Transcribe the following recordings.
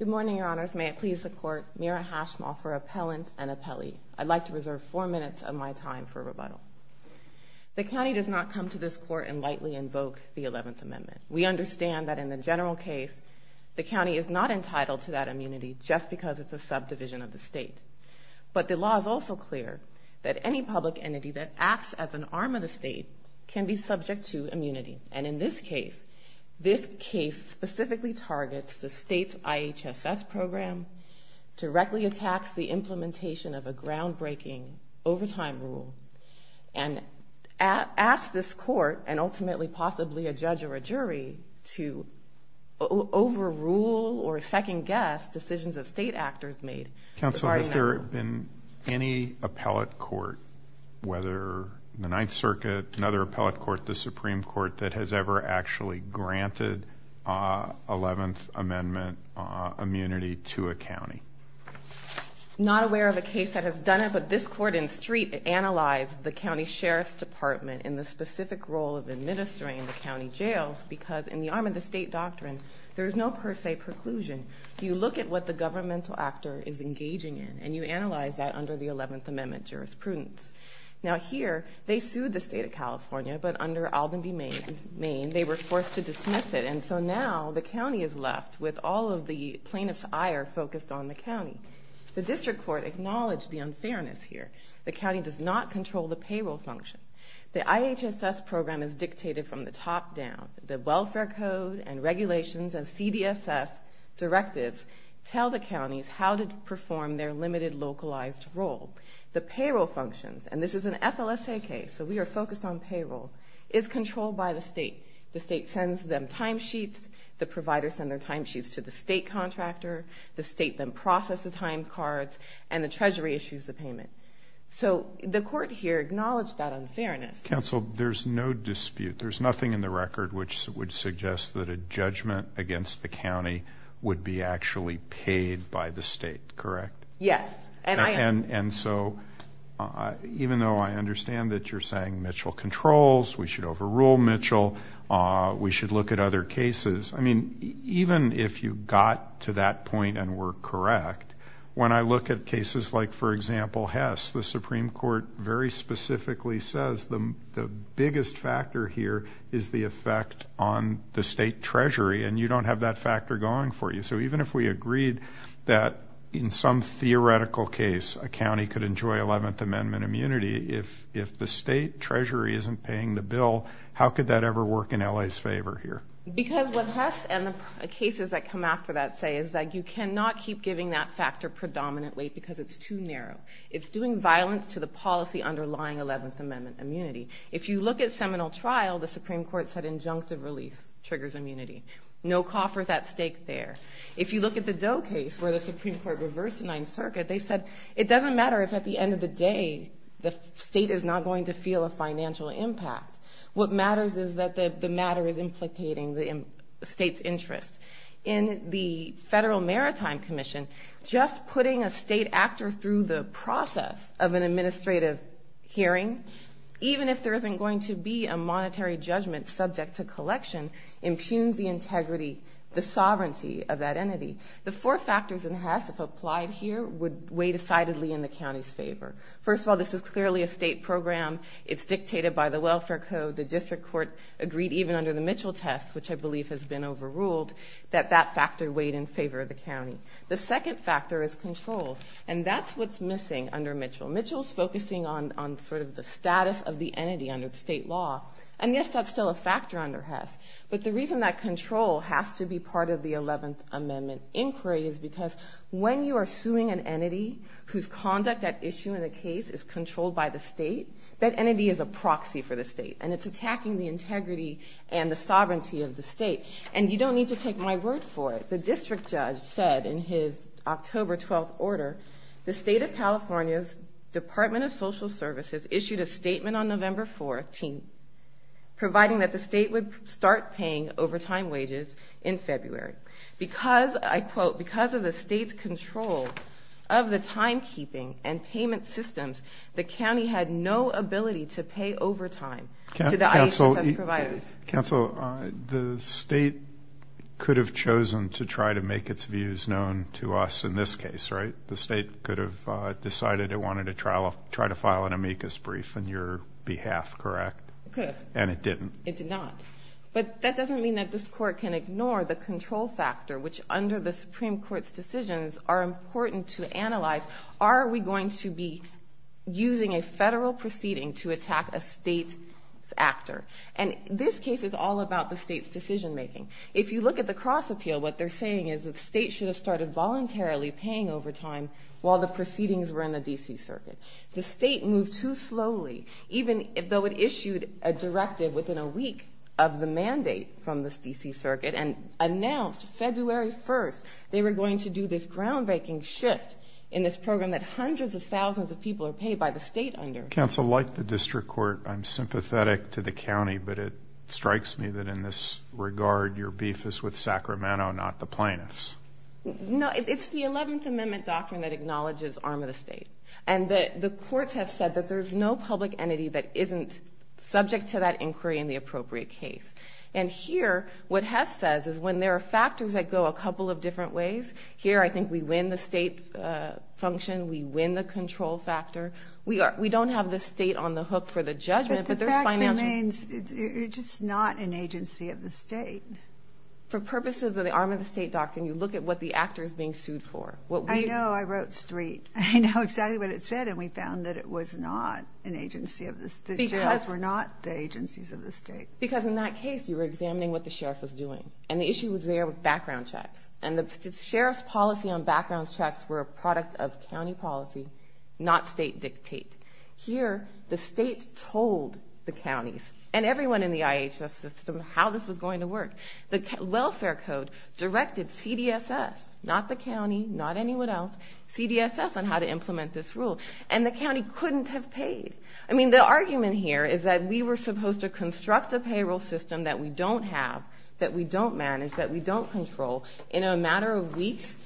Good morning, your honors. May it please the court, Mira Hashmaw for appellant and appellee. I'd like to reserve four minutes of my time for rebuttal. The county does not come to this court and lightly invoke the 11th Amendment. We understand that in the general case, the county is not entitled to that immunity just because it's a subdivision of the state. But the law is also clear that any public entity that acts as an arm of the state can be subject to immunity. And in this case, this case specifically targets the state's IHSS program, directly attacks the implementation of a groundbreaking overtime rule, and asks this court and ultimately possibly a judge or a jury to overrule or second-guess decisions that state actors made. Counsel, has there been any appellate court, whether the Ninth Circuit, another appellate court, the Supreme Court, that has ever actually granted 11th Amendment immunity to a county? Not aware of a case that has done it, but this court in Street analyzed the county sheriff's department in the specific role of administering the county jails because in the arm of the state doctrine, there is no per se preclusion. You look at what the governmental actor is engaging in, and you analyze that under the 11th Amendment jurisprudence. Now here, they sued the state of California, but under Aldenby, Maine, they were forced to dismiss it. And so now the county is left with all of the plaintiff's ire focused on the county. The district court acknowledged the unfairness here. The county does not control the payroll function. The IHSS program is dictated from the top down. The welfare code and regulations and CDSS directives tell the counties how to perform their limited localized role. The payroll functions, and this is an FLSA case, so we are focused on payroll, is controlled by the state. The state sends them timesheets. The providers send their timesheets to the state contractor. The state then processes the time cards, and the treasury issues the payment. So the court here acknowledged that unfairness. Counsel, there's no dispute. There's nothing in the record which would suggest that a judgment against the county would be actually paid by the state, correct? Yes. And so even though I understand that you're saying Mitchell controls, we should overrule Mitchell, we should look at other cases. I mean, even if you got to that point and were correct, when I look at cases like, for example, Hess, the Supreme Court very specifically says the biggest factor here is the effect on the state treasury, and you don't have that factor going for you. So even if we agreed that in some theoretical case a county could enjoy 11th Amendment immunity, if the state treasury isn't paying the bill, how could that ever work in L.A.'s favor here? Because what Hess and the cases that come after that say is that you cannot keep giving that factor predominant weight because it's too narrow. It's doing violence to the policy underlying 11th Amendment immunity. If you look at Seminole Trial, the Supreme Court said injunctive release triggers immunity. No coffers at stake there. If you look at the Doe case where the Supreme Court reversed the Ninth Circuit, they said it doesn't matter if at the end of the day the state is not going to feel a financial impact. What matters is that the matter is implicating the state's interest. In the Federal Maritime Commission, just putting a state actor through the process of an administrative hearing, even if there isn't going to be a monetary judgment subject to collection, impugns the integrity, the sovereignty of that entity. The four factors in Hess, if applied here, would weigh decidedly in the county's favor. First of all, this is clearly a state program. It's dictated by the Welfare Code. The District Court agreed even under the Mitchell test, which I believe has been overruled, that that factor weighed in favor of the county. The second factor is control, and that's what's missing under Mitchell. Mitchell's focusing on sort of the status of the entity under state law, and yes, that's still a factor under Hess. But the reason that control has to be part of the 11th Amendment inquiry is because when you are suing an entity whose conduct at issue in a case is controlled by the state, that entity is a proxy for the state, and it's attacking the integrity and the sovereignty of the state. And you don't need to take my word for it. The district judge said in his October 12th order, the State of California's Department of Social Services issued a statement on November 14th, providing that the state would start paying overtime wages in February. Because, I quote, because of the state's control of the timekeeping and payment systems, the county had no ability to pay overtime to the IHSS providers. Counsel, the state could have chosen to try to make its views known to us in this case, right? The state could have decided it wanted to try to file an amicus brief on your behalf, correct? It could have. And it didn't. It did not. But that doesn't mean that this court can ignore the control factor, which under the Supreme Court's decisions are important to analyze. Are we going to be using a federal proceeding to attack a state's actor? And this case is all about the state's decision-making. If you look at the cross-appeal, what they're saying is the state should have started voluntarily paying overtime while the proceedings were in the D.C. Circuit. The state moved too slowly, even though it issued a directive within a week of the mandate from the D.C. Circuit and announced February 1st they were going to do this groundbreaking shift in this program that hundreds of thousands of people are paid by the state under. Counsel, like the district court, I'm sympathetic to the county, but it strikes me that in this regard your beef is with Sacramento, not the plaintiffs. No, it's the 11th Amendment doctrine that acknowledges arm of the state. And the courts have said that there's no public entity that isn't subject to that inquiry in the appropriate case. And here what Hess says is when there are factors that go a couple of different ways, here I think we win the state function, we win the control factor. We don't have the state on the hook for the judgment, but there's financials. But the fact remains you're just not an agency of the state. For purposes of the arm of the state doctrine, you look at what the actor is being sued for. I know. I wrote STREET. I know exactly what it said, and we found that it was not an agency of the state. The sheriffs were not the agencies of the state. Because in that case you were examining what the sheriff was doing, and the issue was there with background checks. And the sheriff's policy on background checks were a product of county policy, not state dictate. Here the state told the counties and everyone in the IHS system how this was going to work. The welfare code directed CDSS, not the county, not anyone else, CDSS on how to implement this rule. And the county couldn't have paid. I mean, the argument here is that we were supposed to construct a payroll system that we don't have, that we don't manage, that we don't control in a matter of weeks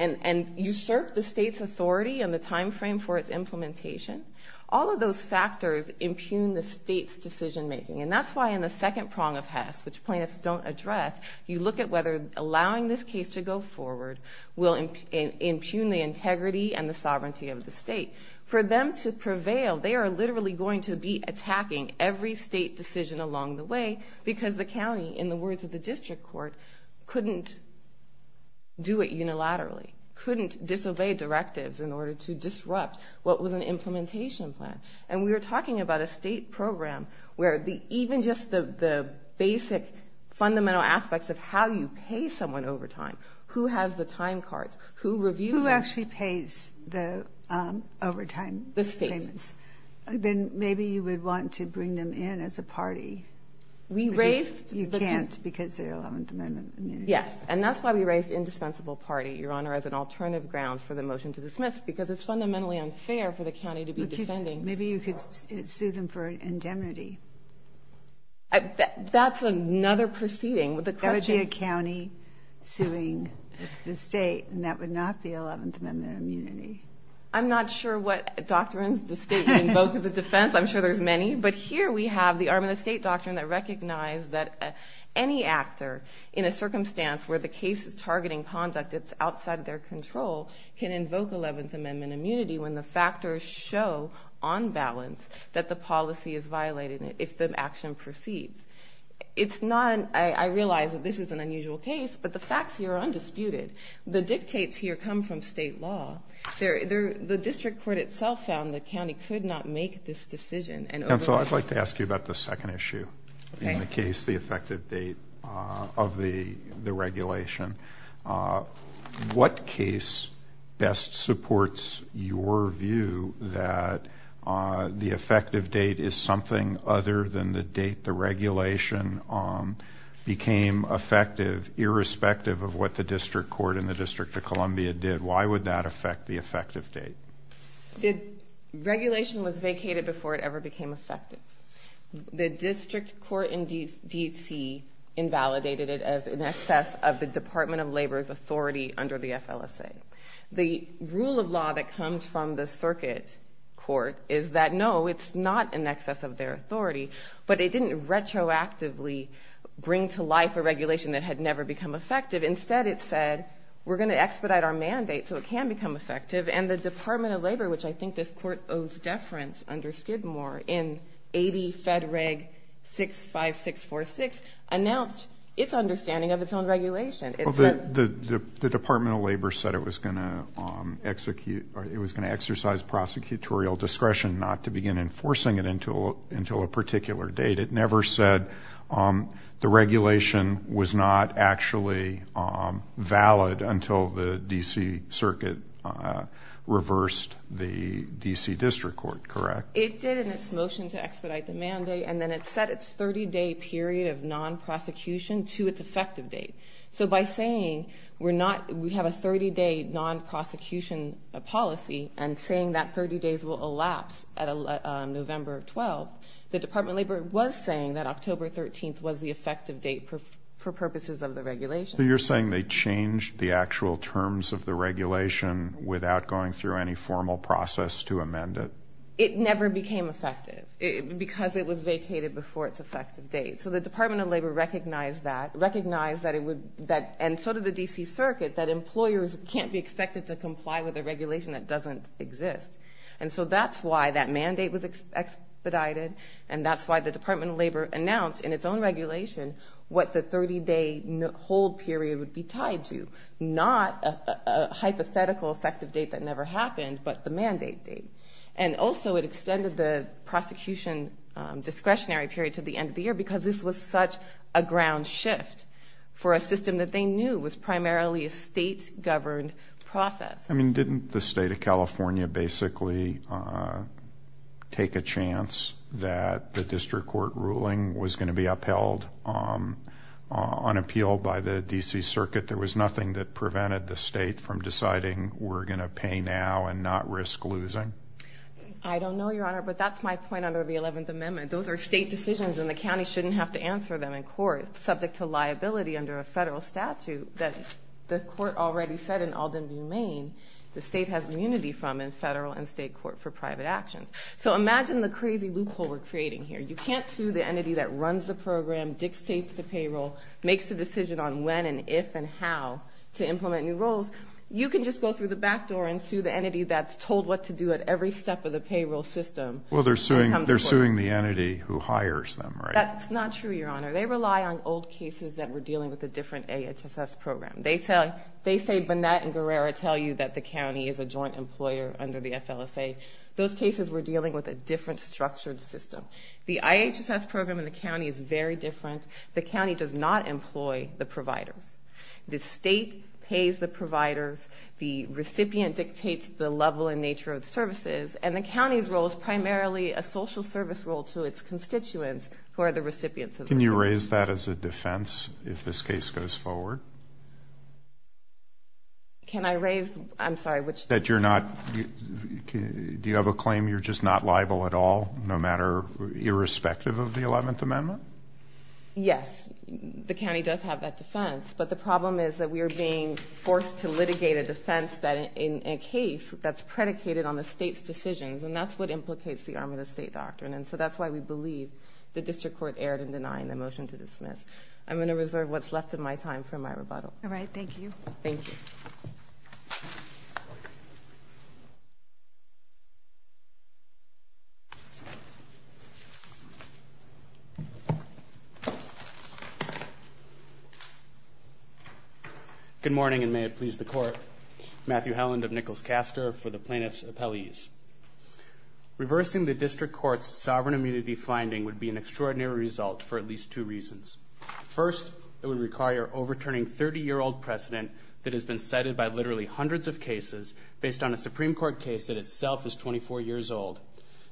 and usurp the state's authority and the time frame for its implementation. All of those factors impugn the state's decision-making. And that's why in the second prong of HESS, which plaintiffs don't address, you look at whether allowing this case to go forward will impugn the integrity and the sovereignty of the state. For them to prevail, they are literally going to be attacking every state decision along the way because the county, in the words of the district court, couldn't do it unilaterally, couldn't disobey directives in order to disrupt what was an implementation plan. And we were talking about a State program where even just the basic fundamental aspects of how you pay someone over time, who has the time cards, who reviews them. Ginsburg. Who actually pays the overtime payments? Harrington. Then maybe you would want to bring them in as a party. Harrington. You can't because they are Eleventh Amendment immunity. Harrington. Yes. And that's why we raised indispensable party, Your Honor, as an alternative ground for the motion to dismiss, because it's fundamentally unfair for the county to be defending Maybe you could sue them for indemnity. That's another proceeding. That would be a county suing the state, and that would not be Eleventh Amendment immunity. I'm not sure what doctrines the state would invoke as a defense. I'm sure there's many. But here we have the Arm of the State doctrine that recognized that any actor in a circumstance where the case is targeting conduct that's outside their control can invoke Eleventh Amendment immunity when the factors show on balance that the policy is violating it, if the action proceeds. It's not an ‑‑ I realize that this is an unusual case, but the facts here are undisputed. The dictates here come from state law. The district court itself found the county could not make this decision. Counsel, I'd like to ask you about the second issue in the case, the effective date of the regulation. What case best supports your view that the effective date is something other than the date the regulation became effective, irrespective of what the district court and the District of Columbia did? Why would that affect the effective date? The regulation was vacated before it ever became effective. The district court in D.C. invalidated it as in excess of the Department of Labor's authority under the FLSA. The rule of law that comes from the circuit court is that, no, it's not in excess of their authority. But it didn't retroactively bring to life a regulation that had never become effective. Instead, it said, we're going to expedite our mandate so it can become effective. And the Department of Labor, which I think this court owes deference under Skidmore, in 80 Fed Reg 65646, announced its understanding of its own regulation. The Department of Labor said it was going to execute or it was going to exercise prosecutorial discretion not to begin enforcing it until a particular date. It never said the regulation was not actually valid until the D.C. circuit reversed the D.C. district court, correct? It did in its motion to expedite the mandate, and then it set its 30-day period of non-prosecution to its effective date. So by saying we're not, we have a 30-day non-prosecution policy and saying that 30 days will elapse at November 12th, the Department of Labor was saying that October 13th was the effective date for purposes of the regulation. So you're saying they changed the actual terms of the regulation without going through any formal process to amend it? It never became effective because it was vacated before its effective date. So the Department of Labor recognized that, and so did the D.C. circuit, that employers can't be expected to comply with a regulation that doesn't exist. And so that's why that mandate was expedited, and that's why the Department of Labor announced in its own regulation what the 30-day hold period would be tied to, not a hypothetical effective date that never happened, but the mandate date. And also it extended the prosecution discretionary period to the end of the year because this was such a ground shift for a system that they knew was primarily a state-governed process. I mean, didn't the state of California basically take a chance that the district court ruling was going to be upheld on appeal by the D.C. circuit? There was nothing that prevented the state from deciding we're going to pay now and not risk losing? I don't know, Your Honor, but that's my point under the 11th Amendment. Those are state decisions, and the county shouldn't have to answer them in court. under a federal statute that the court already said in Aldenview, Maine, the state has immunity from in federal and state court for private actions. So imagine the crazy loophole we're creating here. You can't sue the entity that runs the program, dictates the payroll, makes the decision on when and if and how to implement new rules. You can just go through the back door and sue the entity that's told what to do at every step of the payroll system. Well, they're suing the entity who hires them, right? That's not true, Your Honor. They rely on old cases that were dealing with a different IHSS program. They say Burnett and Guerrero tell you that the county is a joint employer under the FLSA. Those cases were dealing with a different structured system. The IHSS program in the county is very different. The county does not employ the providers. The state pays the providers. The recipient dictates the level and nature of the services, and the county's role is primarily a social service role to its constituents who are the recipients. Can you raise that as a defense if this case goes forward? Can I raise? I'm sorry, which? That you're not, do you have a claim you're just not liable at all, no matter, irrespective of the 11th Amendment? Yes. The county does have that defense. But the problem is that we are being forced to litigate a defense in a case that's predicated on the state's decisions, and that's what implicates the arm of the state doctrine. And so that's why we believe the district court erred in denying the motion to dismiss. I'm going to reserve what's left of my time for my rebuttal. All right. Good morning, and may it please the court. Matthew Helland of Nichols-Castor for the plaintiff's appellees. Reversing the district court's sovereign immunity finding would be an extraordinary result for at least two reasons. First, it would require overturning 30-year-old precedent that has been cited by literally hundreds of cases based on a Supreme Court case that itself is 24 years old.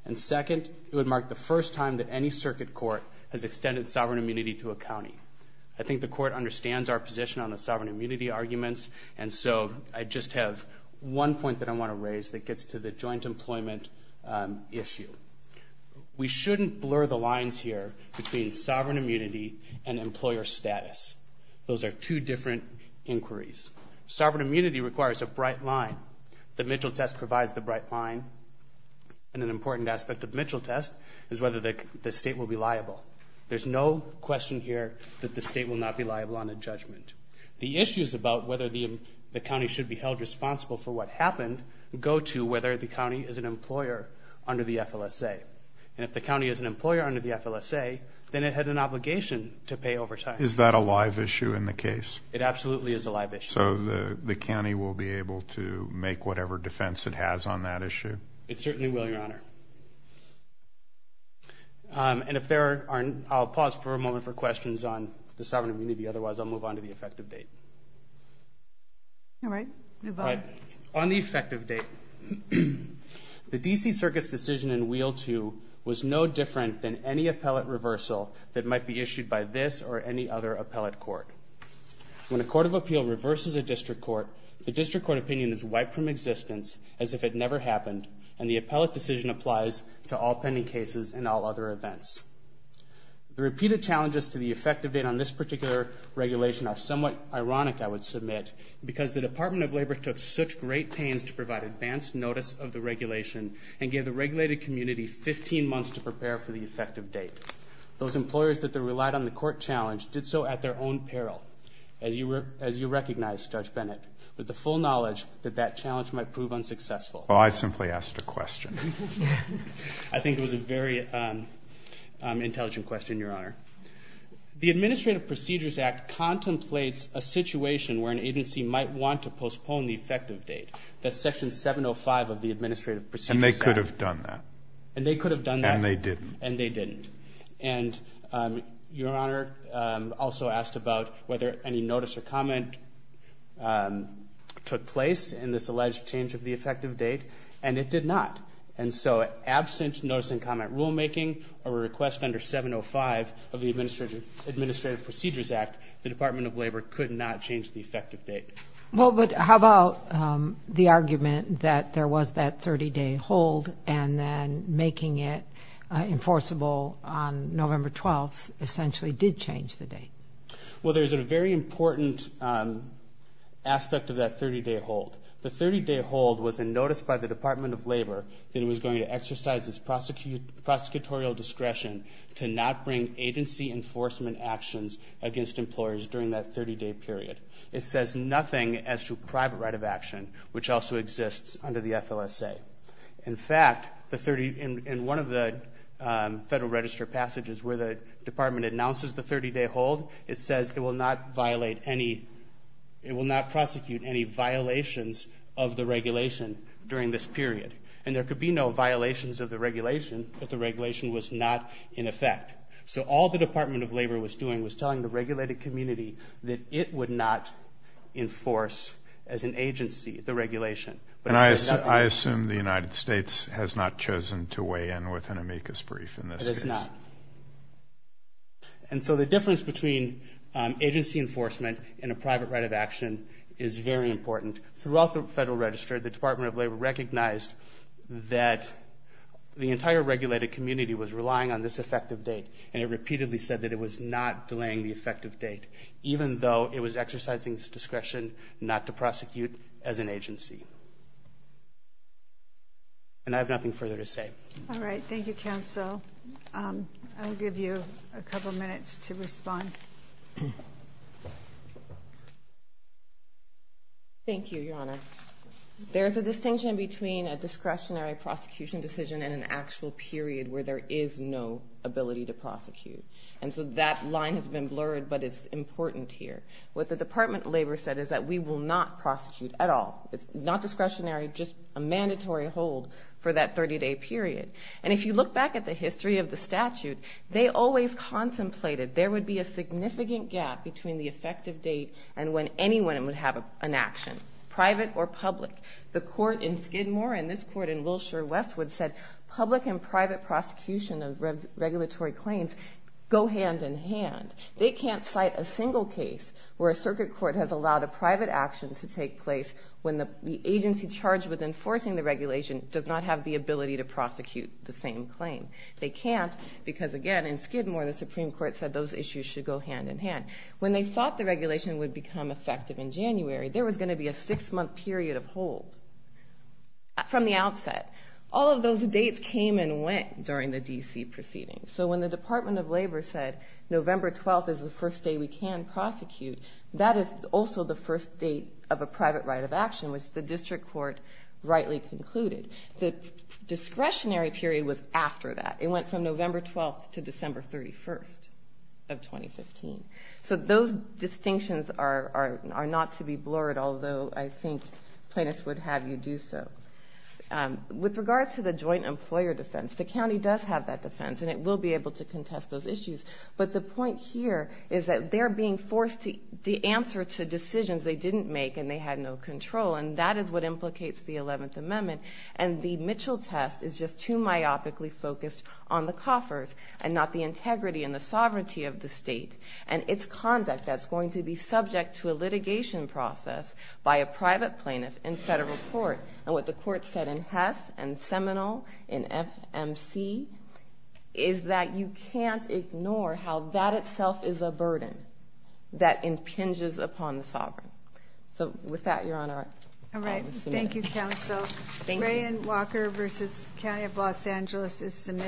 And second, it would mark the first time that any circuit court has extended sovereign immunity to a county. I think the court understands our position on the sovereign immunity arguments, and so I just have one point that I want to raise that gets to the joint employment issue. We shouldn't blur the lines here between sovereign immunity and employer status. Those are two different inquiries. Sovereign immunity requires a bright line. The Mitchell test provides the bright line. And an important aspect of the Mitchell test is whether the state will be liable. There's no question here that the state will not be liable on a judgment. The issues about whether the county should be held responsible for what happened go to whether the county is an employer under the FLSA. And if the county is an employer under the FLSA, then it had an obligation to pay overtime. Is that a live issue in the case? It absolutely is a live issue. So the county will be able to make whatever defense it has on that issue? It certainly will, Your Honor. And if there aren't, I'll pause for a moment for questions on the sovereign immunity. Otherwise, I'll move on to the effective date. All right. Move on. On the effective date. The D.C. Circuit's decision in Wheel 2 was no different than any appellate reversal that might be issued by this or any other appellate court. When a court of appeal reverses a district court, the district court opinion is wiped from existence as if it never happened, and the appellate decision applies to all pending cases and all other events. The repeated challenges to the effective date on this particular regulation are somewhat ironic, I would submit, because the Department of Labor took such great pains to provide advanced notice of the regulation and gave the regulated community 15 months to prepare for the effective date. Those employers that relied on the court challenge did so at their own peril, as you recognize, Judge Bennett, with the full knowledge that that challenge might prove unsuccessful. Well, I simply asked a question. I think it was a very intelligent question, Your Honor. The Administrative Procedures Act contemplates a situation where an agency might want to postpone the effective date. That's Section 705 of the Administrative Procedures Act. And they could have done that. And they could have done that. And they didn't. And they didn't. And Your Honor also asked about whether any notice or comment took place in this alleged change of the effective date, and it did not. And so absent notice and comment rulemaking or a request under 705 of the Administrative Procedures Act, the Department of Labor could not change the effective date. Well, but how about the argument that there was that 30-day hold and then making it enforceable on November 12th essentially did change the date? Well, there's a very important aspect of that 30-day hold. The 30-day hold was a notice by the Department of Labor that it was going to exercise its prosecutorial discretion to not bring agency enforcement actions against employers during that 30-day period. It says nothing as to private right of action, which also exists under the FLSA. In fact, in one of the Federal Register passages where the Department announces the 30-day hold, it says it will not prosecute any violations of the regulation during this period. And there could be no violations of the regulation if the regulation was not in effect. So all the Department of Labor was doing was telling the regulated community that it would not enforce as an agency the regulation. And I assume the United States has not chosen to weigh in with an amicus brief in this case. It has not. And so the difference between agency enforcement and a private right of action is very important. Throughout the Federal Register, the Department of Labor recognized that the entire regulated community was relying on this effective date, and it repeatedly said that it was not delaying the effective date, even though it was exercising its discretion not to prosecute as an agency. And I have nothing further to say. All right. Thank you, counsel. I'll give you a couple minutes to respond. Thank you, Your Honor. There's a distinction between a discretionary prosecution decision and an actual period where there is no ability to prosecute. And so that line has been blurred, but it's important here. What the Department of Labor said is that we will not prosecute at all. It's not discretionary, just a mandatory hold for that 30-day period. And if you look back at the history of the statute, they always contemplated there would be a significant gap between the effective date and when anyone would have an action, private or public. The court in Skidmore and this court in Wilshire-Westwood said public and private prosecution of regulatory claims go hand in hand. They can't cite a single case where a circuit court has allowed a private action to take place when the agency charged with enforcing the regulation does not have the ability to prosecute the same claim. They can't because, again, in Skidmore the Supreme Court said those issues should go hand in hand. When they thought the regulation would become effective in January, there was going to be a six-month period of hold from the outset. All of those dates came and went during the D.C. proceedings. So when the Department of Labor said November 12th is the first day we can prosecute, that is also the first date of a private right of action, which the district court rightly concluded. The discretionary period was after that. It went from November 12th to December 31st of 2015. So those distinctions are not to be blurred, although I think plaintiffs would have you do so. With regard to the joint employer defense, the county does have that defense, and it will be able to contest those issues. But the point here is that they're being forced to answer to decisions they didn't make and they had no control, and that is what implicates the Eleventh Amendment. And the Mitchell test is just too myopically focused on the coffers and not the integrity and the sovereignty of the state and its conduct that's going to be subject to a litigation process by a private plaintiff in federal court. And what the court said in Hess and Seminole, in FMC, is that you can't ignore how that itself is a burden that impinges upon the sovereign. Thank you, counsel. Thank you. Gray and Walker versus County of Los Angeles is submitted.